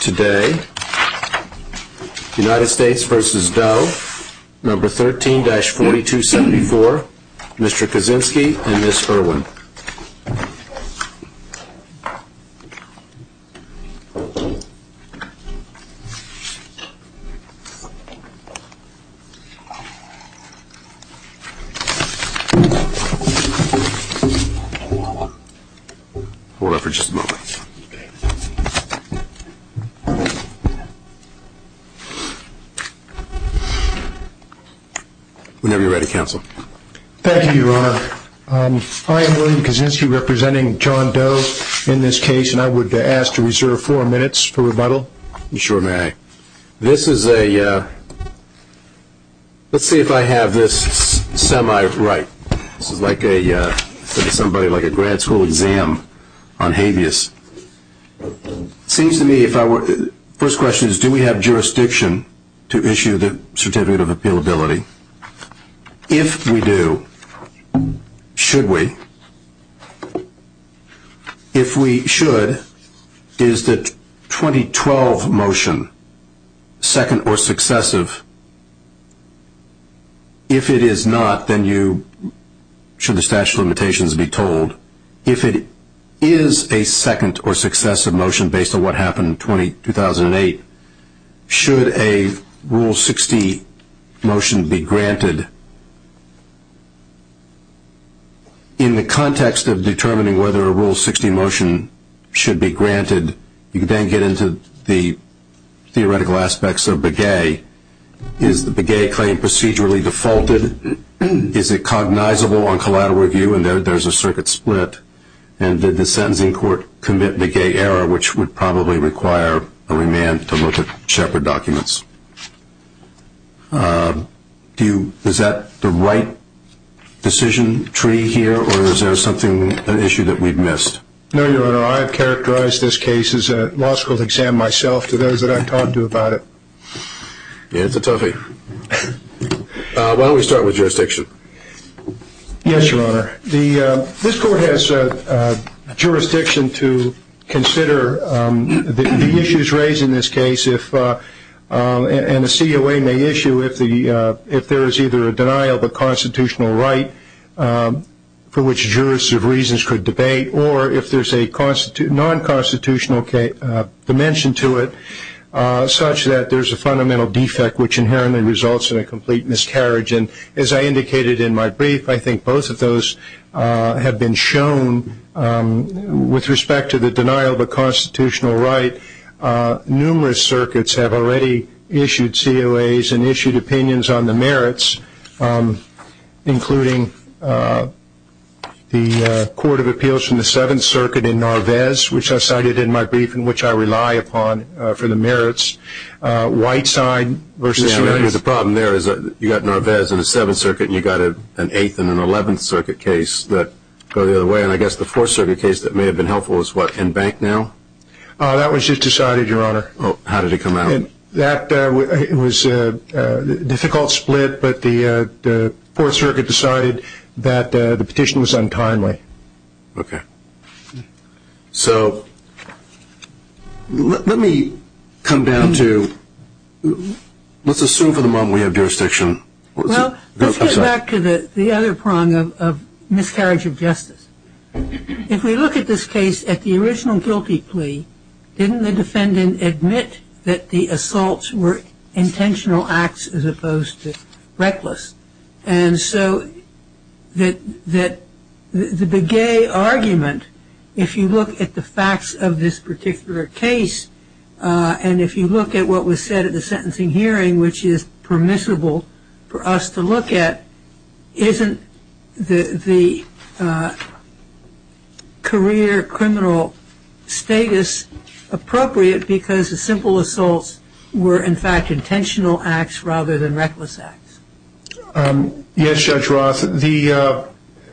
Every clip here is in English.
Today, United States v. Doe, No. 13-4274, Mr. Kaczynski and Ms. Irwin. Hold on for just a moment. Whenever you're ready, Counsel. Thank you, Your Honor. I am William Kaczynski, representing John Doe in this case, and I would ask to reserve four minutes for rebuttal. You sure may. Okay. This is a – let's see if I have this semi-right. This is like a – somebody like a grad school exam on habeas. It seems to me if I were – first question is, do we have jurisdiction to issue the Certificate of Appealability? If we do, should we? If we should, is the 2012 motion second or successive? If it is not, then you – should the statute of limitations be told? If it is a second or successive motion based on what happened in 2008, should a Rule 60 motion be granted? In the context of determining whether a Rule 60 motion should be granted, you then get into the theoretical aspects of Begay. Is the Begay claim procedurally defaulted? Is it cognizable on collateral review and there's a circuit split? And did the sentencing court commit Begay error, which would probably require a remand to look at Shepard documents? Do you – is that the right decision tree here or is there something – an issue that we've missed? No, Your Honor. I have characterized this case as a law school exam myself to those that I've talked to about it. Yeah, it's a toughie. Why don't we start with jurisdiction? Yes, Your Honor. The – this court has jurisdiction to consider the issues raised in this case if – and the COA may issue if the – if there is either a denial of a constitutional right for which jurists of reasons could debate or if there's a non-constitutional dimension to it such that there's a fundamental defect, which inherently results in a complete miscarriage. And as I indicated in my brief, I think both of those have been shown. With respect to the denial of a constitutional right, numerous circuits have already issued COAs and issued opinions on the merits, including the Court of Appeals from the Seventh Circuit in Narvaez, which I cited in my brief and which I rely upon for the merits. Whiteside versus – Yeah, the problem there is that you've got Narvaez in the Seventh Circuit and you've got an Eighth and an Eleventh Circuit case that go the other way. And I guess the Fourth Circuit case that may have been helpful is what, in Banknow? That was just decided, Your Honor. How did it come out? That was a difficult split, but the Fourth Circuit decided that the petition was untimely. Okay. So let me come down to – let's assume for the moment we have jurisdiction. Well, let's get back to the other prong of miscarriage of justice. If we look at this case at the original guilty plea, didn't the defendant admit that the assaults were intentional acts as opposed to reckless? And so the Begay argument, if you look at the facts of this particular case and if you look at what was said at the sentencing hearing, which is permissible for us to look at, isn't the career criminal status appropriate because the simple assaults were, in fact, intentional acts rather than reckless acts? Yes, Judge Roth. The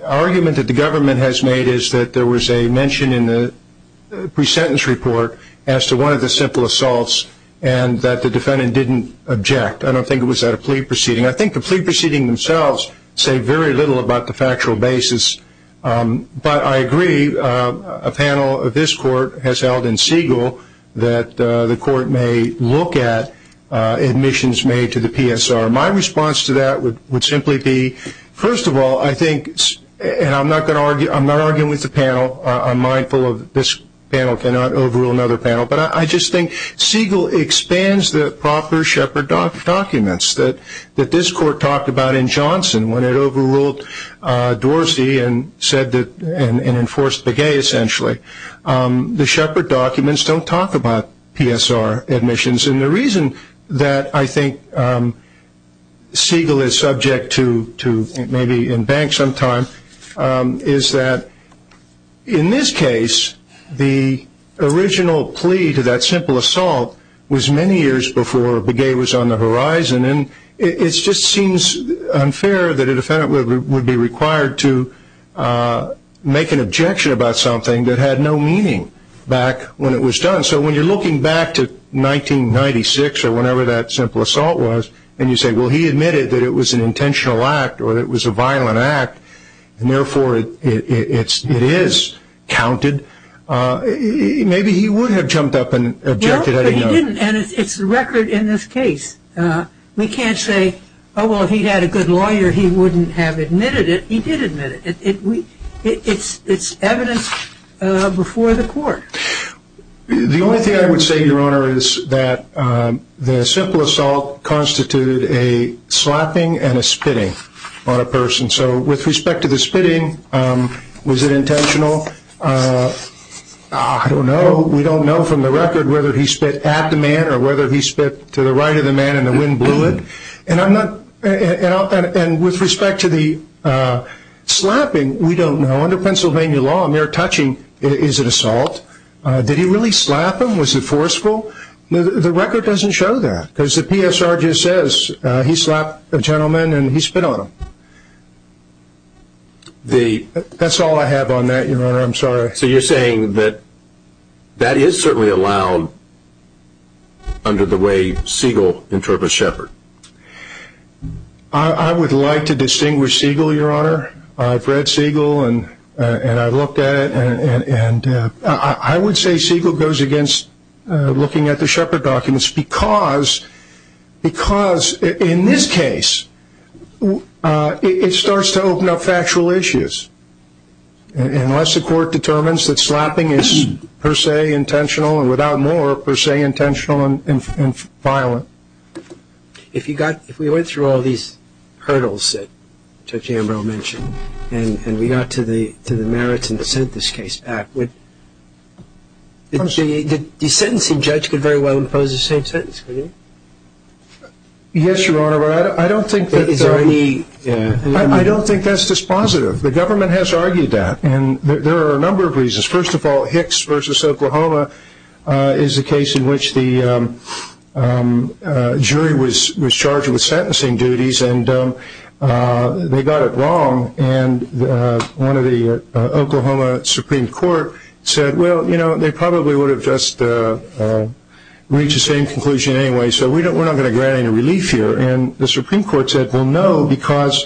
argument that the government has made is that there was a mention in the pre-sentence report as to one of the simple assaults and that the defendant didn't object. I don't think it was at a plea proceeding. I think the plea proceedings themselves say very little about the factual basis, but I agree a panel of this court has held in Siegel that the court may look at admissions made to the PSR. My response to that would simply be, first of all, I think – and I'm not arguing with the panel. I'm mindful that this panel cannot overrule another panel. But I just think Siegel expands the proper Shepard documents that this court talked about in Johnson when it overruled Dorsey and enforced Begay, essentially. The Shepard documents don't talk about PSR admissions. The reason that I think Siegel is subject to maybe in bank sometime is that, in this case, the original plea to that simple assault was many years before Begay was on the horizon. It just seems unfair that a defendant would be required to make an objection about something that had no meaning back when it was done. So when you're looking back to 1996 or whenever that simple assault was and you say, well, he admitted that it was an intentional act or that it was a violent act and, therefore, it is counted, maybe he would have jumped up and objected. Well, but he didn't, and it's a record in this case. We can't say, oh, well, if he'd had a good lawyer, he wouldn't have admitted it. It's evidence before the court. The only thing I would say, Your Honor, is that the simple assault constituted a slapping and a spitting on a person. So with respect to the spitting, was it intentional? I don't know. We don't know from the record whether he spit at the man or whether he spit to the right of the man and the wind blew it. And with respect to the slapping, we don't know. Under Pennsylvania law, a mere touching is an assault. Did he really slap him? Was it forceful? The record doesn't show that because the PSR just says he slapped a gentleman and he spit on him. That's all I have on that, Your Honor. I'm sorry. So you're saying that that is certainly allowed under the way Siegel interprets Shepard? I would like to distinguish Siegel, Your Honor. I've read Siegel and I've looked at it and I would say Siegel goes against looking at the Shepard documents because in this case, it starts to open up factual issues. Unless the court determines that slapping is per se intentional and without more, per se intentional and violent. If we went through all these hurdles that Judge Ambrose mentioned and we got to the merits and sent this case back, the sentencing judge could very well impose the same sentence, couldn't he? Yes, Your Honor, but I don't think that's dispositive. The government has argued that and there are a number of reasons. First of all, Hicks v. Oklahoma is a case in which the jury was charged with sentencing duties and they got it wrong and one of the Oklahoma Supreme Court said, well, you know, they probably would have just reached the same conclusion anyway, so we're not going to grant any relief here. And the Supreme Court said, well, no, because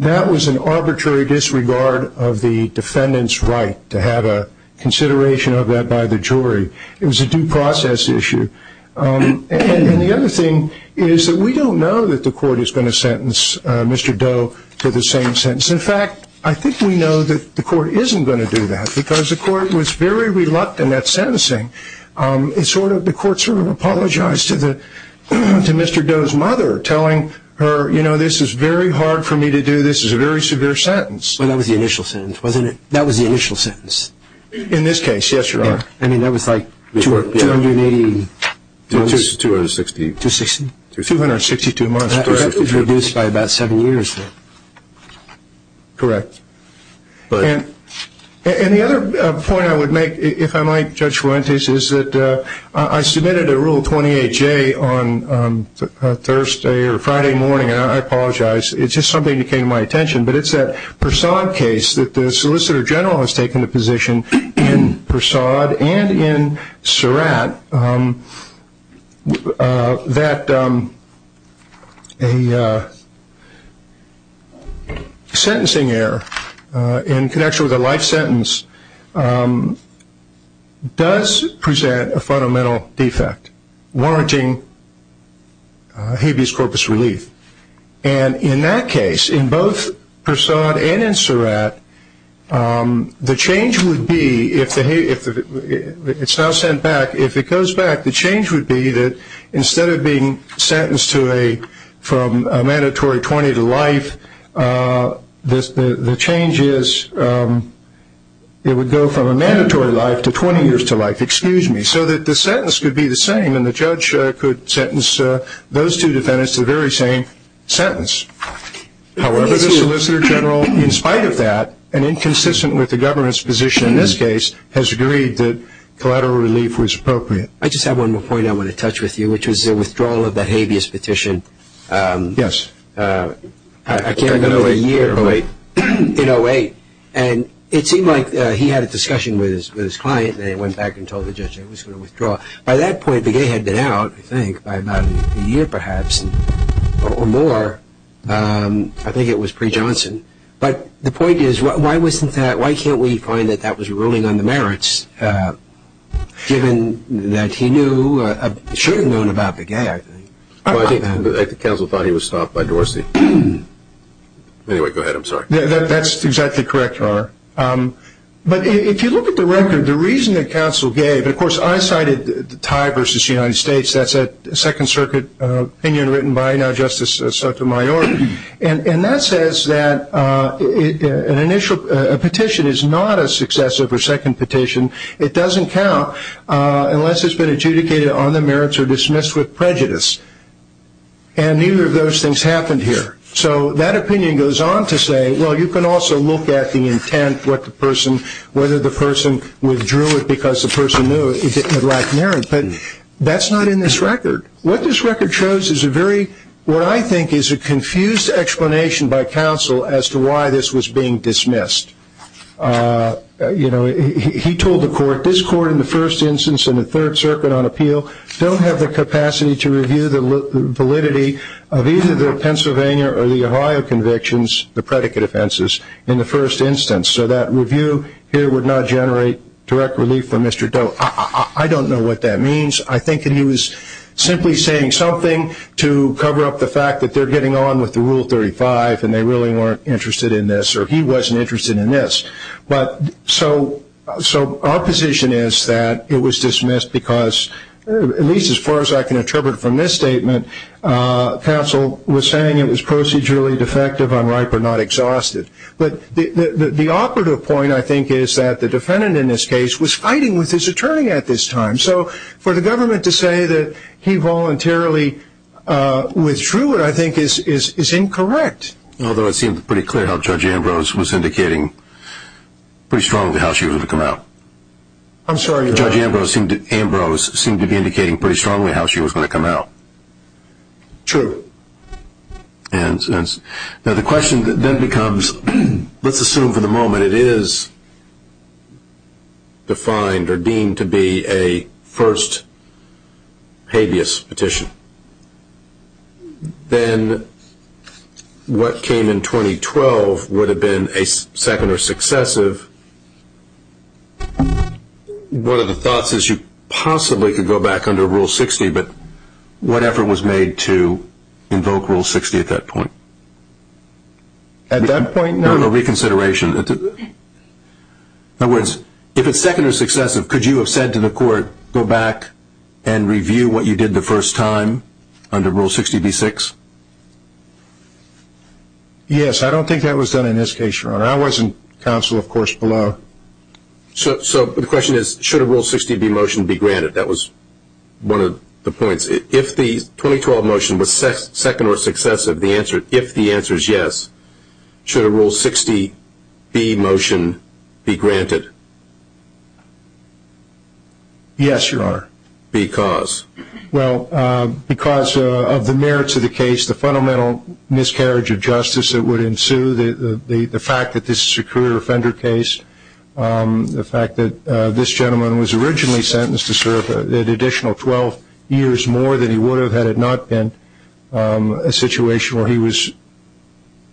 that was an arbitrary disregard of the defendant's right to have a consideration of that by the jury. It was a due process issue. And the other thing is that we don't know that the court is going to sentence Mr. Doe to the same sentence. In fact, I think we know that the court isn't going to do that because the court was very reluctant at sentencing. The court sort of apologized to Mr. Doe's mother, telling her, you know, this is very hard for me to do, this is a very severe sentence. Well, that was the initial sentence, wasn't it? That was the initial sentence. In this case, yes, Your Honor. I mean, that was like 280 months. 260. 260? 262 months. That was reduced by about seven years. Correct. And the other point I would make, if I might, Judge Fuentes, is that I submitted a Rule 28J on Thursday or Friday morning, and I apologize. It's just something that came to my attention, but it's that Persaud case that the Solicitor General has taken the position in Persaud and in Surratt that a sentencing error in connection with a life sentence does present a fundamental defect, warranting habeas corpus relief. And in that case, in both Persaud and in Surratt, the change would be, if it's now sent back, if it goes back, the change would be that instead of being sentenced from a mandatory 20 to life, the change is it would go from a mandatory life to 20 years to life, excuse me, so that the sentence could be the same and the judge could sentence those two defendants to the very same sentence. However, the Solicitor General, in spite of that, and inconsistent with the government's position in this case, has agreed that collateral relief was appropriate. I just have one more point I want to touch with you, which is the withdrawal of the habeas petition. Yes. I can't remember the year, but in 08. And it seemed like he had a discussion with his client, and he went back and told the judge it was going to withdraw. By that point, Begay had been out, I think, by about a year perhaps or more. I think it was pre-Johnson. But the point is, why can't we find that that was ruling on the merits, given that he should have known about Begay, I think. I think the counsel thought he was stopped by Dorsey. Anyway, go ahead. I'm sorry. That's exactly correct, R. But if you look at the record, the reason the counsel gave, and, of course, I cited the tie versus the United States, that's a Second Circuit opinion written by now Justice Sotomayor, and that says that a petition is not a successive or second petition. It doesn't count unless it's been adjudicated on the merits or dismissed with prejudice. And neither of those things happened here. So that opinion goes on to say, well, you can also look at the intent, whether the person withdrew it because the person knew it lacked merit. But that's not in this record. What this record shows is a very, what I think is a confused explanation by counsel as to why this was being dismissed. You know, he told the court, this court in the first instance and the Third Circuit on appeal don't have the capacity to review the validity of either the Pennsylvania or the Ohio convictions, the predicate offenses, in the first instance. So that review here would not generate direct relief for Mr. Doe. I don't know what that means. I think he was simply saying something to cover up the fact that they're getting on with the Rule 35 and they really weren't interested in this, or he wasn't interested in this. So our position is that it was dismissed because, at least as far as I can interpret from this statement, counsel was saying it was procedurally defective, unripe, or not exhausted. But the operative point, I think, is that the defendant in this case was fighting with his attorney at this time. So for the government to say that he voluntarily withdrew it, I think, is incorrect. Although it seemed pretty clear how Judge Ambrose was indicating pretty strongly how she was going to come out. I'm sorry? Judge Ambrose seemed to be indicating pretty strongly how she was going to come out. True. Now the question then becomes, let's assume for the moment it is defined or deemed to be a first habeas petition. Then what came in 2012 would have been a second or successive. One of the thoughts is you possibly could go back under Rule 60, but what effort was made to invoke Rule 60 at that point? At that point, no. A reconsideration. In other words, if it's second or successive, could you have said to the court, go back and review what you did the first time under Rule 60b-6? Yes. I wasn't counsel, of course, below. So the question is, should a Rule 60b motion be granted? That was one of the points. If the 2012 motion was second or successive, if the answer is yes, should a Rule 60b motion be granted? Yes, Your Honor. Because? Well, because of the merits of the case, the fundamental miscarriage of justice that would ensue, the fact that this is a career offender case, the fact that this gentleman was originally sentenced to serve an additional 12 years more than he would have had it not been, a situation where he was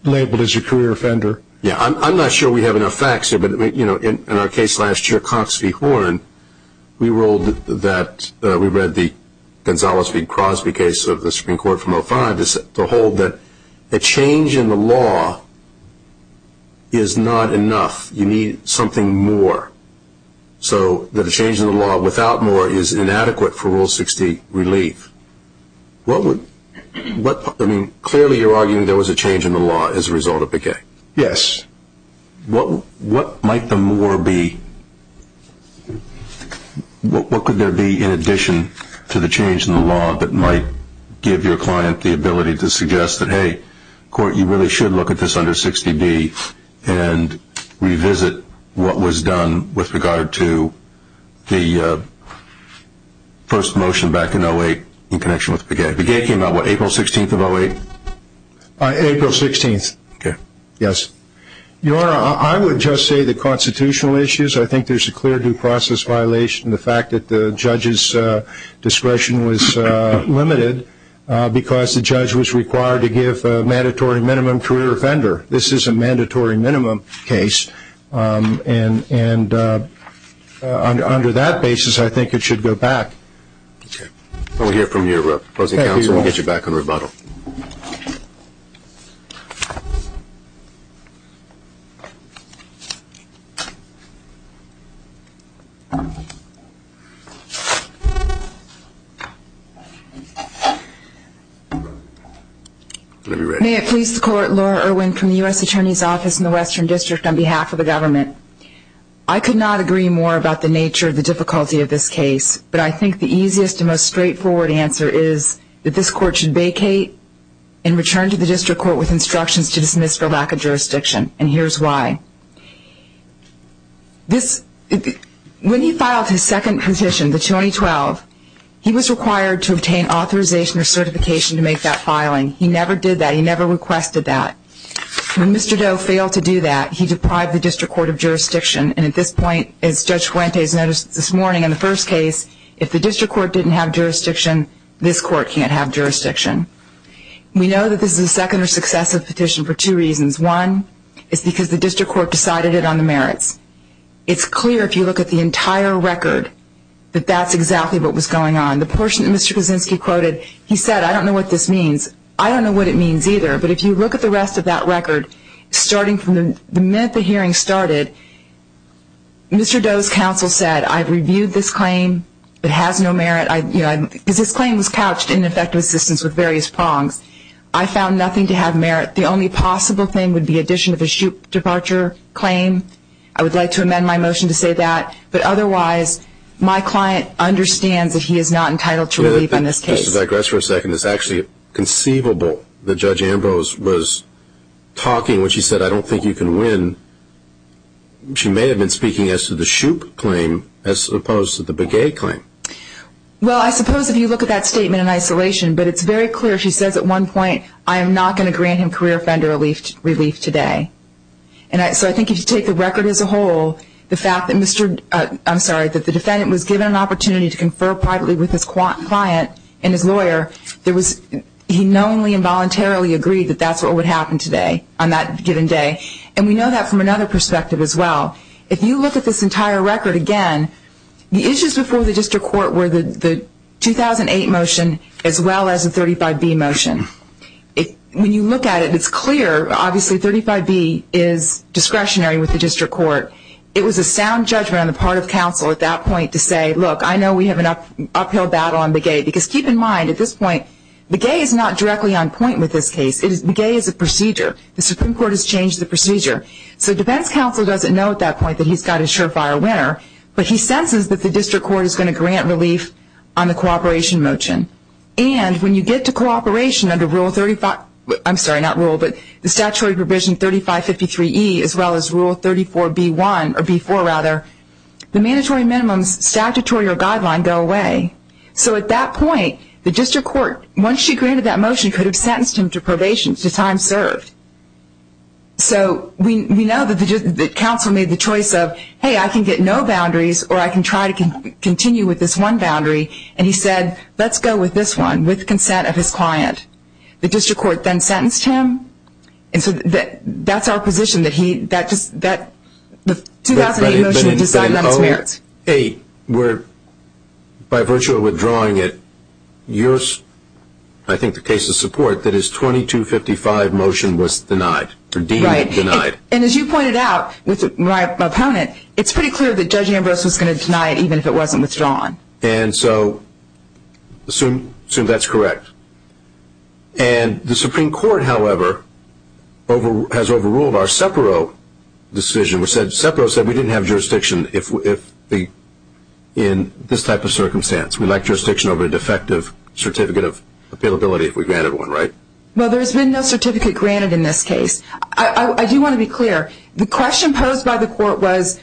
labeled as a career offender. I'm not sure we have enough facts here, but in our case last year, Cox v. Horn, we ruled that we read the Gonzales v. Crosby case of the Supreme Court from 2005 to hold that a change in the law is not enough. You need something more. So that a change in the law without more is inadequate for Rule 60 relief. I mean, clearly you're arguing there was a change in the law as a result of the case. Yes. What might the more be? What could there be in addition to the change in the law that might give your client the ability to suggest that, hey, court, you really should look at this under 60b and revisit what was done with regard to the first motion back in 08 in connection with Begay. Begay came out what, April 16th of 08? April 16th. Okay. Yes. Your Honor, I would just say the constitutional issues, I think there's a clear due process violation. The fact that the judge's discretion was limited because the judge was required to give a mandatory minimum career offender. This is a mandatory minimum case, and under that basis, I think it should go back. We'll hear from your opposing counsel and get you back on rebuttal. May it please the Court, Laura Irwin from the U.S. Attorney's Office in the Western District on behalf of the government. I could not agree more about the nature of the difficulty of this case, but I think the easiest and most straightforward answer is that this court should vacate and return to the district court with instructions to dismiss for lack of jurisdiction, and here's why. When he filed his second petition, the 2012, he was required to obtain authorization or certification to make that filing. He never did that. He never requested that. When Mr. Doe failed to do that, he deprived the district court of jurisdiction, and at this point, as Judge Fuentes noticed this morning in the first case, if the district court didn't have jurisdiction, this court can't have jurisdiction. We know that this is a second or successive petition for two reasons. One is because the district court decided it on the merits. It's clear if you look at the entire record that that's exactly what was going on. The portion that Mr. Kuczynski quoted, he said, I don't know what this means. I don't know what it means either, but if you look at the rest of that record, starting from the minute the hearing started, Mr. Doe's counsel said, I've reviewed this claim. It has no merit. This claim was couched in effective assistance with various prongs. I found nothing to have merit. The only possible thing would be addition of a shoot departure claim. I would like to amend my motion to say that, but otherwise, my client understands that he is not entitled to relief in this case. Let me just digress for a second. It's actually conceivable that Judge Ambrose was talking when she said, I don't think you can win. She may have been speaking as to the shoot claim as opposed to the baguette claim. Well, I suppose if you look at that statement in isolation, but it's very clear. She says at one point, I am not going to grant him career offender relief today. And so I think if you take the record as a whole, the fact that Mr. I'm sorry, that the defendant was given an opportunity to confer privately with his client and his lawyer, he knowingly and voluntarily agreed that that's what would happen today on that given day. And we know that from another perspective as well. If you look at this entire record again, the issues before the district court were the 2008 motion as well as the 35B motion. When you look at it, it's clear, obviously, 35B is discretionary with the district court. It was a sound judgment on the part of counsel at that point to say, look, I know we have an uphill battle on the baguette. Because keep in mind, at this point, the baguette is not directly on point with this case. The baguette is a procedure. The Supreme Court has changed the procedure. So defense counsel doesn't know at that point that he's got a surefire winner. But he senses that the district court is going to grant relief on the cooperation motion. And when you get to cooperation under Statutory Provision 3553E as well as Rule 34B4, the mandatory minimums statutory or guideline go away. So at that point, the district court, once she granted that motion, could have sentenced him to probation, to time served. So we know that counsel made the choice of, hey, I can get no boundaries or I can try to continue with this one boundary. And he said, let's go with this one with consent of his client. The district court then sentenced him. And so that's our position, that the 2008 motion decided on his merits. Hey, we're, by virtue of withdrawing it, yours, I think the case of support, that his 2255 motion was denied or deemed denied. Right. And as you pointed out with my opponent, it's pretty clear that Judge Ambrose was going to deny it even if it wasn't withdrawn. And so assume that's correct. And the Supreme Court, however, has overruled our SEPARO decision. SEPARO said we didn't have jurisdiction in this type of circumstance. We'd like jurisdiction over a defective certificate of appealability if we granted one, right? Well, there's been no certificate granted in this case. I do want to be clear. The question posed by the court was,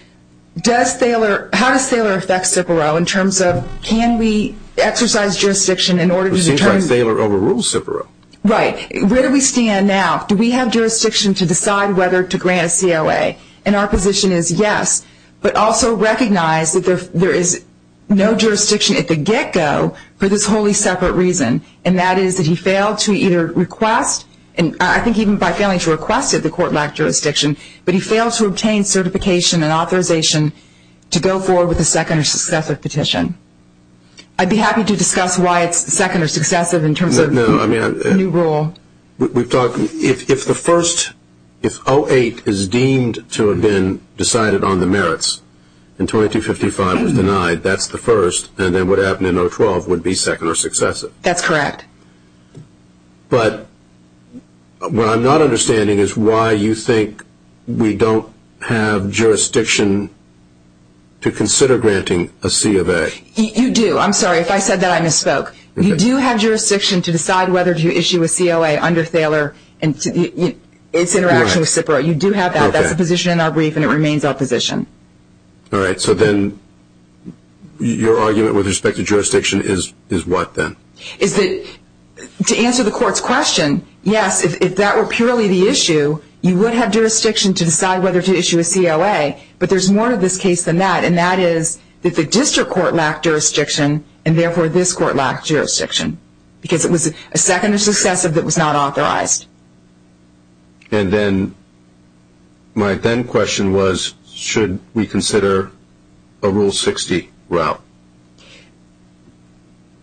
how does Thaler affect SEPARO in terms of can we exercise jurisdiction in order to determine? It seems like Thaler overruled SEPARO. Right. Where do we stand now? Do we have jurisdiction to decide whether to grant a COA? And our position is yes, but also recognize that there is no jurisdiction at the get-go for this wholly separate reason, and that is that he failed to either request, and I think even by failing to request it, the court lacked jurisdiction, but he failed to obtain certification and authorization to go forward with a second or successive petition. I'd be happy to discuss why it's second or successive in terms of the new rule. We've talked, if the first, if 08 is deemed to have been decided on the merits and 2255 was denied, that's the first, and then what happened in 012 would be second or successive. That's correct. But what I'm not understanding is why you think we don't have jurisdiction to consider granting a COA. You do. I'm sorry if I said that. I misspoke. You do have jurisdiction to decide whether to issue a COA under Thaler and its interaction with SEPARO. You do have that. That's the position in our brief, and it remains our position. All right. So then your argument with respect to jurisdiction is what then? To answer the court's question, yes, if that were purely the issue, you would have jurisdiction to decide whether to issue a COA, but there's more to this case than that, and that is that the district court lacked jurisdiction, and therefore this court lacked jurisdiction because it was a second or successive that was not authorized. And then my then question was, should we consider a Rule 60 route?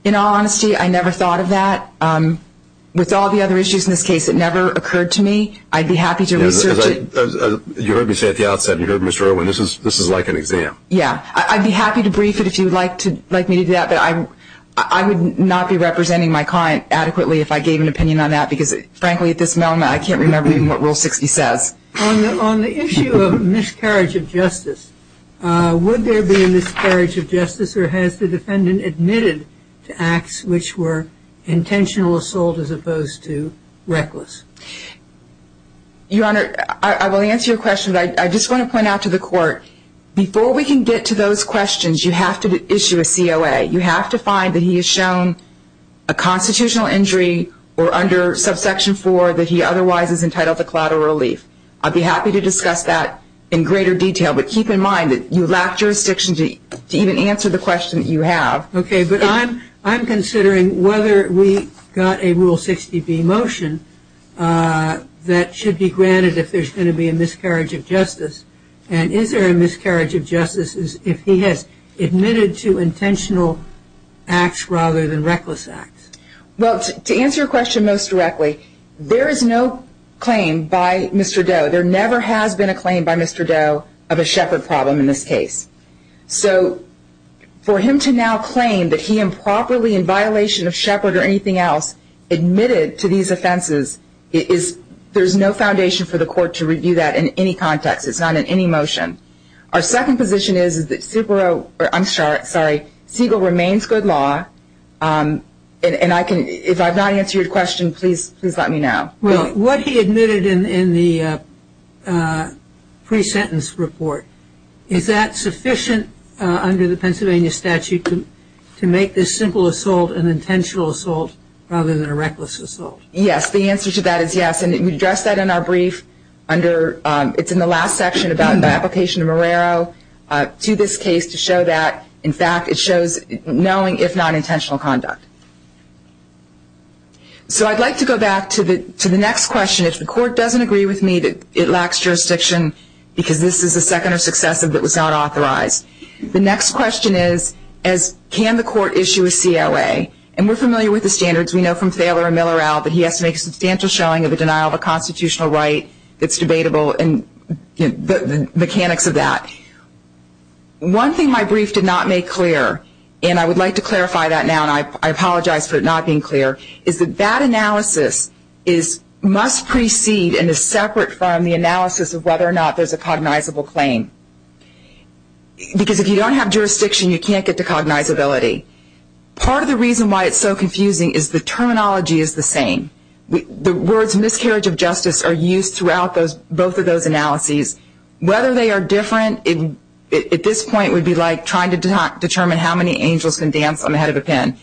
In all honesty, I never thought of that. With all the other issues in this case, it never occurred to me. I'd be happy to research it. You heard me say at the outset, you heard Mr. Irwin, this is like an exam. Yeah. I'd be happy to brief it if you'd like me to do that, but I would not be representing my client adequately if I gave an opinion on that because, frankly, at this moment, I can't remember even what Rule 60 says. On the issue of miscarriage of justice, would there be a miscarriage of justice, or has the defendant admitted to acts which were intentional assault as opposed to reckless? Your Honor, I will answer your question, but I just want to point out to the court, before we can get to those questions, you have to issue a COA. You have to find that he has shown a constitutional injury or under subsection 4 that he otherwise is entitled to collateral relief. I'd be happy to discuss that in greater detail, but keep in mind that you lack jurisdiction to even answer the question that you have. Okay, but I'm considering whether we got a Rule 60b motion that should be granted if there's going to be a miscarriage of justice. And is there a miscarriage of justice if he has admitted to intentional acts rather than reckless acts? Well, to answer your question most directly, there is no claim by Mr. Doe. There never has been a claim by Mr. Doe of a Shepard problem in this case. So for him to now claim that he improperly, in violation of Shepard or anything else, admitted to these offenses, there's no foundation for the court to review that in any context. It's not in any motion. Our second position is that Segal remains good law, and if I've not answered your question, please let me know. Well, what he admitted in the pre-sentence report, is that sufficient under the Pennsylvania statute to make this simple assault an intentional assault rather than a reckless assault? Yes. The answer to that is yes, and we addressed that in our brief. It's in the last section about the application of Marrero to this case to show that, in fact, it shows knowing if not intentional conduct. So I'd like to go back to the next question. If the court doesn't agree with me that it lacks jurisdiction because this is a second or successive that was not authorized, the next question is, can the court issue a COA? And we're familiar with the standards. We know from Thaler and Millerell that he has to make a substantial showing of a denial of a constitutional right that's debatable and the mechanics of that. One thing my brief did not make clear, and I would like to clarify that now, and I apologize for it not being clear, is that that analysis must precede and is separate from the analysis of whether or not there's a cognizable claim. Because if you don't have jurisdiction, you can't get to cognizability. Part of the reason why it's so confusing is the terminology is the same. The words miscarriage of justice are used throughout both of those analyses. Whether they are different at this point would be like trying to determine how many angels can dance on the head of a pen.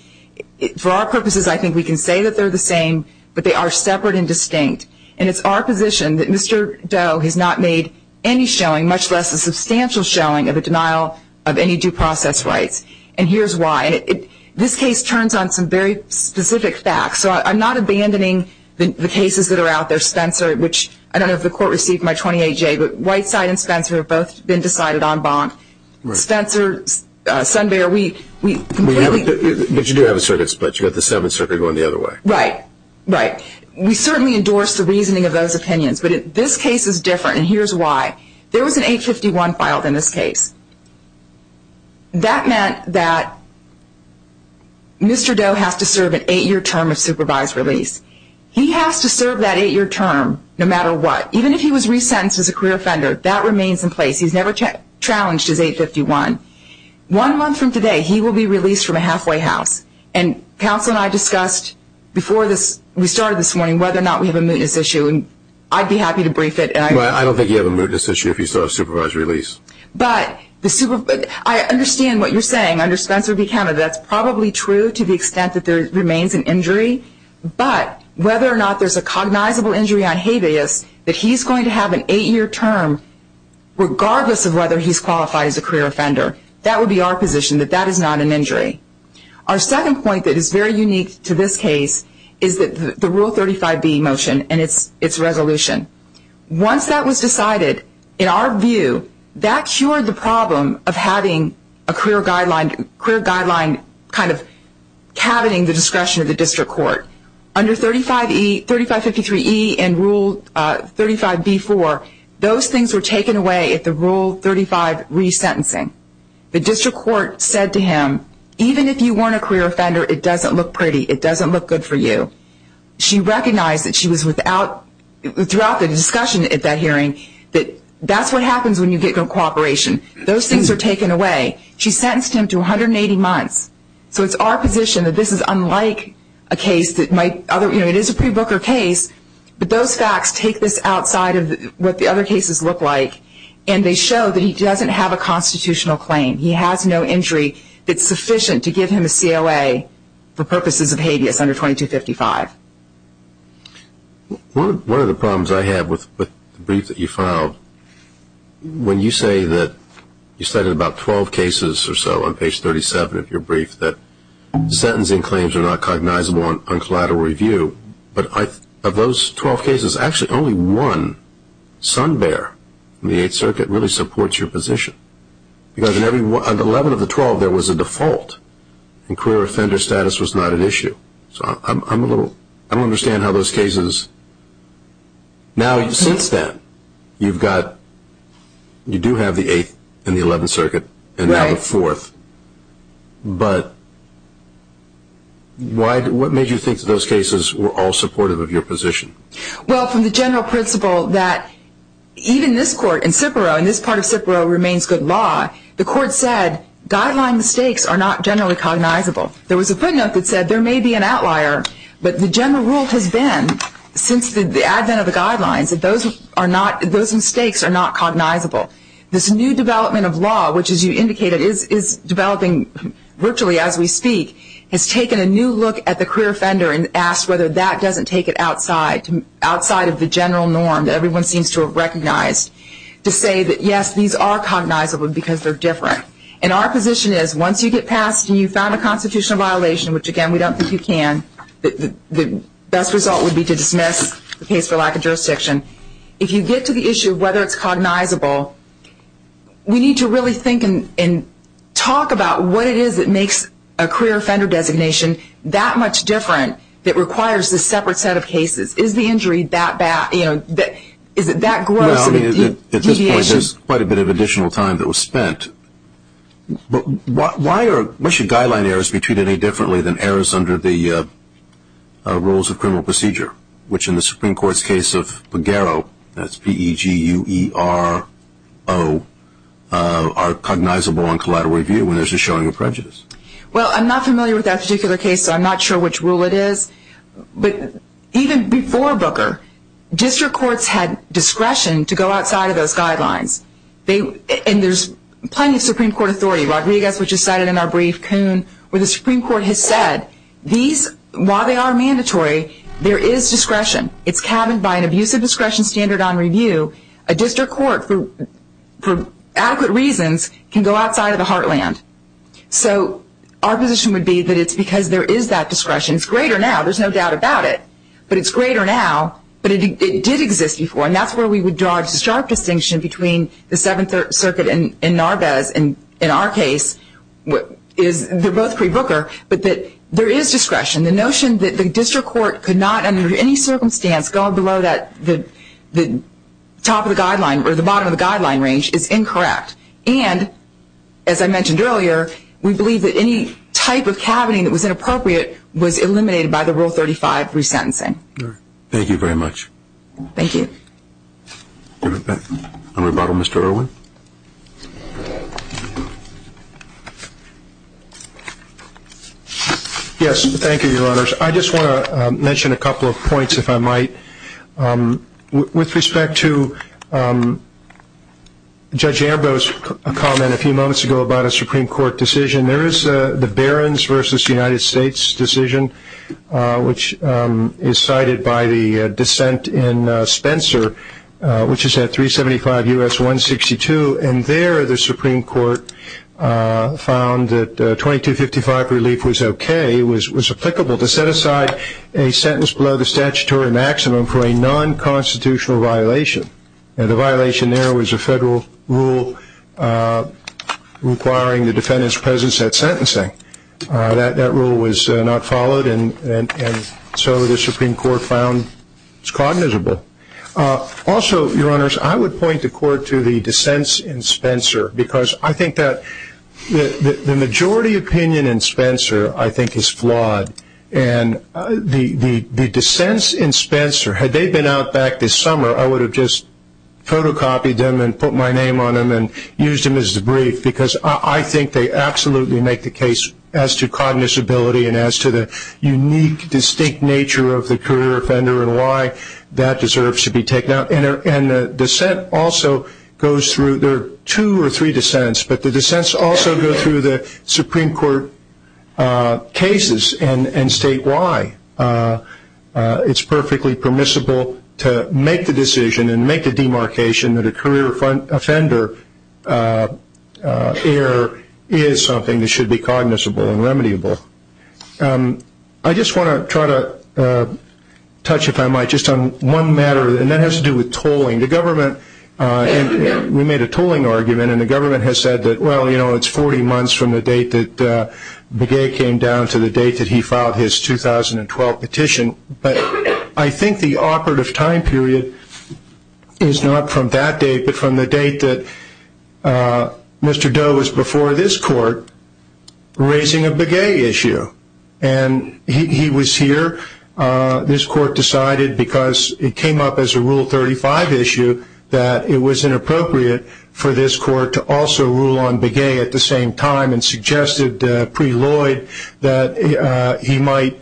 For our purposes, I think we can say that they're the same, but they are separate and distinct. And it's our position that Mr. Doe has not made any showing, much less a substantial showing, of a denial of any due process rights. And here's why. This case turns on some very specific facts. So I'm not abandoning the cases that are out there. Spencer, which I don't know if the court received my 28-J, but Whiteside and Spencer have both been decided en banc. Spencer, Sunbear, we completely... But you do have the circuits, but you've got the Seventh Circuit going the other way. Right, right. We certainly endorse the reasoning of those opinions. But this case is different, and here's why. There was an 851 filed in this case. That meant that Mr. Doe has to serve an eight-year term of supervised release. He has to serve that eight-year term no matter what. Even if he was resentenced as a career offender, that remains in place. He's never challenged his 851. One month from today, he will be released from a halfway house. And counsel and I discussed before we started this morning whether or not we have a mootness issue, and I'd be happy to brief it. I don't think you have a mootness issue if you still have supervised release. But I understand what you're saying. Under Spencer v. Canada, that's probably true to the extent that there remains an injury. But whether or not there's a cognizable injury on habeas, that he's going to have an eight-year term regardless of whether he's qualified as a career offender, that would be our position that that is not an injury. Our second point that is very unique to this case is the Rule 35b motion and its resolution. Once that was decided, in our view, that cured the problem of having a career guideline kind of cabineting the discretion of the district court. Under 3553E and Rule 35b-4, those things were taken away at the Rule 35 resentencing. The district court said to him, even if you weren't a career offender, it doesn't look pretty. It doesn't look good for you. She recognized that she was without, throughout the discussion at that hearing, that that's what happens when you get no cooperation. Those things are taken away. She sentenced him to 180 months. So it's our position that this is unlike a case that might, you know, it is a pre-Booker case, but those facts take this outside of what the other cases look like, and they show that he doesn't have a constitutional claim. He has no injury that's sufficient to give him a COA for purposes of habeas under 2255. One of the problems I have with the brief that you filed, when you say that you cited about 12 cases or so on page 37 of your brief that sentencing claims are not cognizable on collateral review, but of those 12 cases, actually only one, Sun Bear, in the Eighth Circuit, really supports your position. Because on 11 of the 12, there was a default, and career offender status was not an issue. So I don't understand how those cases... Now, since then, you do have the Eighth and the Eleventh Circuit, and now the Fourth. But what made you think that those cases were all supportive of your position? Well, from the general principle that even this court in Cipro, and this part of Cipro remains good law, the court said guideline mistakes are not generally cognizable. There was a footnote that said there may be an outlier, but the general rule has been since the advent of the guidelines that those mistakes are not cognizable. This new development of law, which, as you indicated, is developing virtually as we speak, has taken a new look at the career offender and asked whether that doesn't take it outside of the general norm that everyone seems to have recognized, to say that, yes, these are cognizable because they're different. And our position is, once you get past and you've found a constitutional violation, which, again, we don't think you can, the best result would be to dismiss the case for lack of jurisdiction. If you get to the issue of whether it's cognizable, we need to really think and talk about what it is that makes a career offender designation that much different that requires this separate set of cases. Is the injury that bad? Is it that gross? At this point, there's quite a bit of additional time that was spent. But why should guideline errors be treated any differently than errors under the rules of criminal procedure, which in the Supreme Court's case of Pogaro, that's P-E-G-U-E-R-O, are cognizable on collateral review when there's a showing of prejudice? Well, I'm not familiar with that particular case, so I'm not sure which rule it is. But even before Booker, district courts had discretion to go outside of those guidelines. And there's plenty of Supreme Court authority. Rodriguez, which is cited in our brief, Kuhn, where the Supreme Court has said, while they are mandatory, there is discretion. It's cabined by an abusive discretion standard on review. A district court, for adequate reasons, can go outside of the heartland. So our position would be that it's because there is that discretion. It's greater now. There's no doubt about it. But it's greater now. But it did exist before, and that's where we would draw a sharp distinction between the Seventh Circuit and Narvaez. And in our case, they're both pre-Booker, but there is discretion. The notion that the district court could not, under any circumstance, go below the top of the guideline or the bottom of the guideline range is incorrect. And, as I mentioned earlier, we believe that any type of cabining that was inappropriate was eliminated by the Rule 35 resentencing. Thank you very much. Thank you. On rebuttal, Mr. Irwin. Yes, thank you, Your Honors. I just want to mention a couple of points, if I might. With respect to Judge Ambrose's comment a few moments ago about a Supreme Court decision, there is the Barons v. United States decision, which is cited by the dissent in Spencer, which is at 375 U.S. 162. And there the Supreme Court found that 2255 relief was okay, was applicable to set aside a sentence below the statutory maximum for a non-constitutional violation. And the violation there was a federal rule requiring the defendant's presence at sentencing. That rule was not followed, and so the Supreme Court found it's cognizable. Also, Your Honors, I would point the Court to the dissents in Spencer because I think that the majority opinion in Spencer, I think, is flawed. And the dissents in Spencer, had they been out back this summer, I would have just photocopied them and put my name on them and used them as a brief because I think they absolutely make the case as to cognizability and as to the unique, distinct nature of the career offender and why that deserves to be taken out. And the dissent also goes through, there are two or three dissents, but the dissents also go through the Supreme Court cases and statewide. It's perfectly permissible to make the decision and make the demarcation that a career offender error is something that should be cognizable and remediable. I just want to try to touch, if I might, just on one matter, and that has to do with tolling. The government, we made a tolling argument, and the government has said that, well, you know, it's 40 months from the date that Begay came down to the date that he filed his 2012 petition. But I think the operative time period is not from that date, but from the date that Mr. Doe was before this Court raising a Begay issue. And he was here. This Court decided, because it came up as a Rule 35 issue, that it was inappropriate for this Court to also rule on Begay at the same time and suggested pre-Lloyd that he might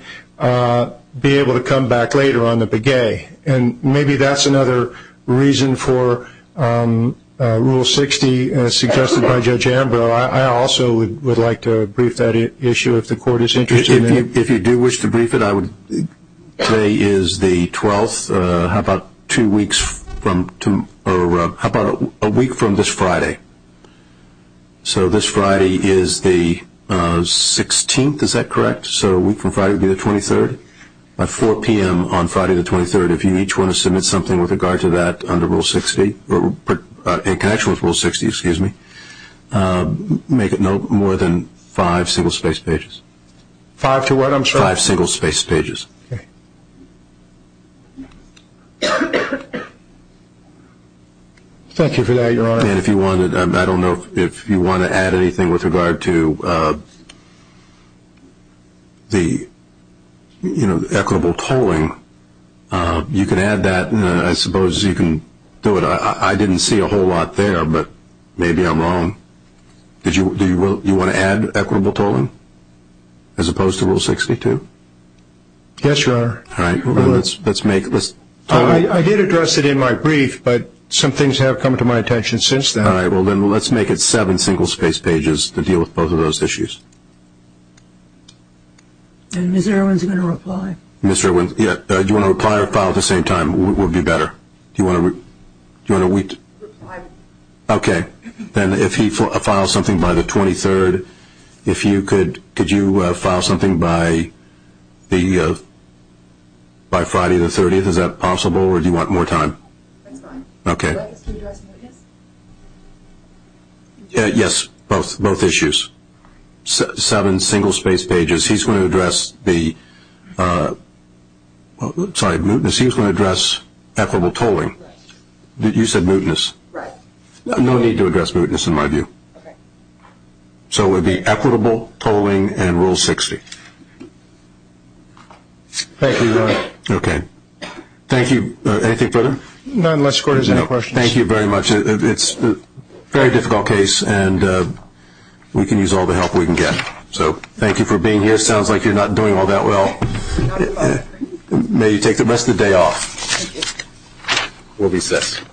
be able to come back later on the Begay. And maybe that's another reason for Rule 60, as suggested by Judge Ambrose. I also would like to brief that issue if the Court is interested in it. If you do wish to brief it, today is the 12th. How about a week from this Friday? So this Friday is the 16th, is that correct? So a week from Friday would be the 23rd. At 4 p.m. on Friday the 23rd, if you each want to submit something with regard to that under Rule 60, in connection with Rule 60, excuse me, make it no more than five single-spaced pages. Five to what, I'm sorry? Five single-spaced pages. Thank you for that, Your Honor. And I don't know if you want to add anything with regard to the equitable tolling. You can add that, and I suppose you can do it. I didn't see a whole lot there, but maybe I'm wrong. Do you want to add equitable tolling as opposed to Rule 62? Yes, Your Honor. All right. I did address it in my brief, but some things have come to my attention since then. All right. Well, then let's make it seven single-spaced pages to deal with both of those issues. And Mr. Irwin is going to reply. Mr. Irwin, do you want to reply or file at the same time? It would be better. Do you want to wait? Reply. Okay. Then if he files something by the 23rd, could you file something by Friday the 30th? Is that possible, or do you want more time? That's fine. Okay. Can you address mootness? Yes, both issues. Seven single-spaced pages. He's going to address the – sorry, mootness. He's going to address equitable tolling. You said mootness. Right. No need to address mootness in my view. Okay. So it would be equitable tolling and Rule 60. Thank you, Your Honor. Okay. Thank you. Anything further? No, unless the Court has any questions. No. Thank you very much. It's a very difficult case, and we can use all the help we can get. So thank you for being here. It sounds like you're not doing all that well. May you take the rest of the day off. Thank you. We'll be set.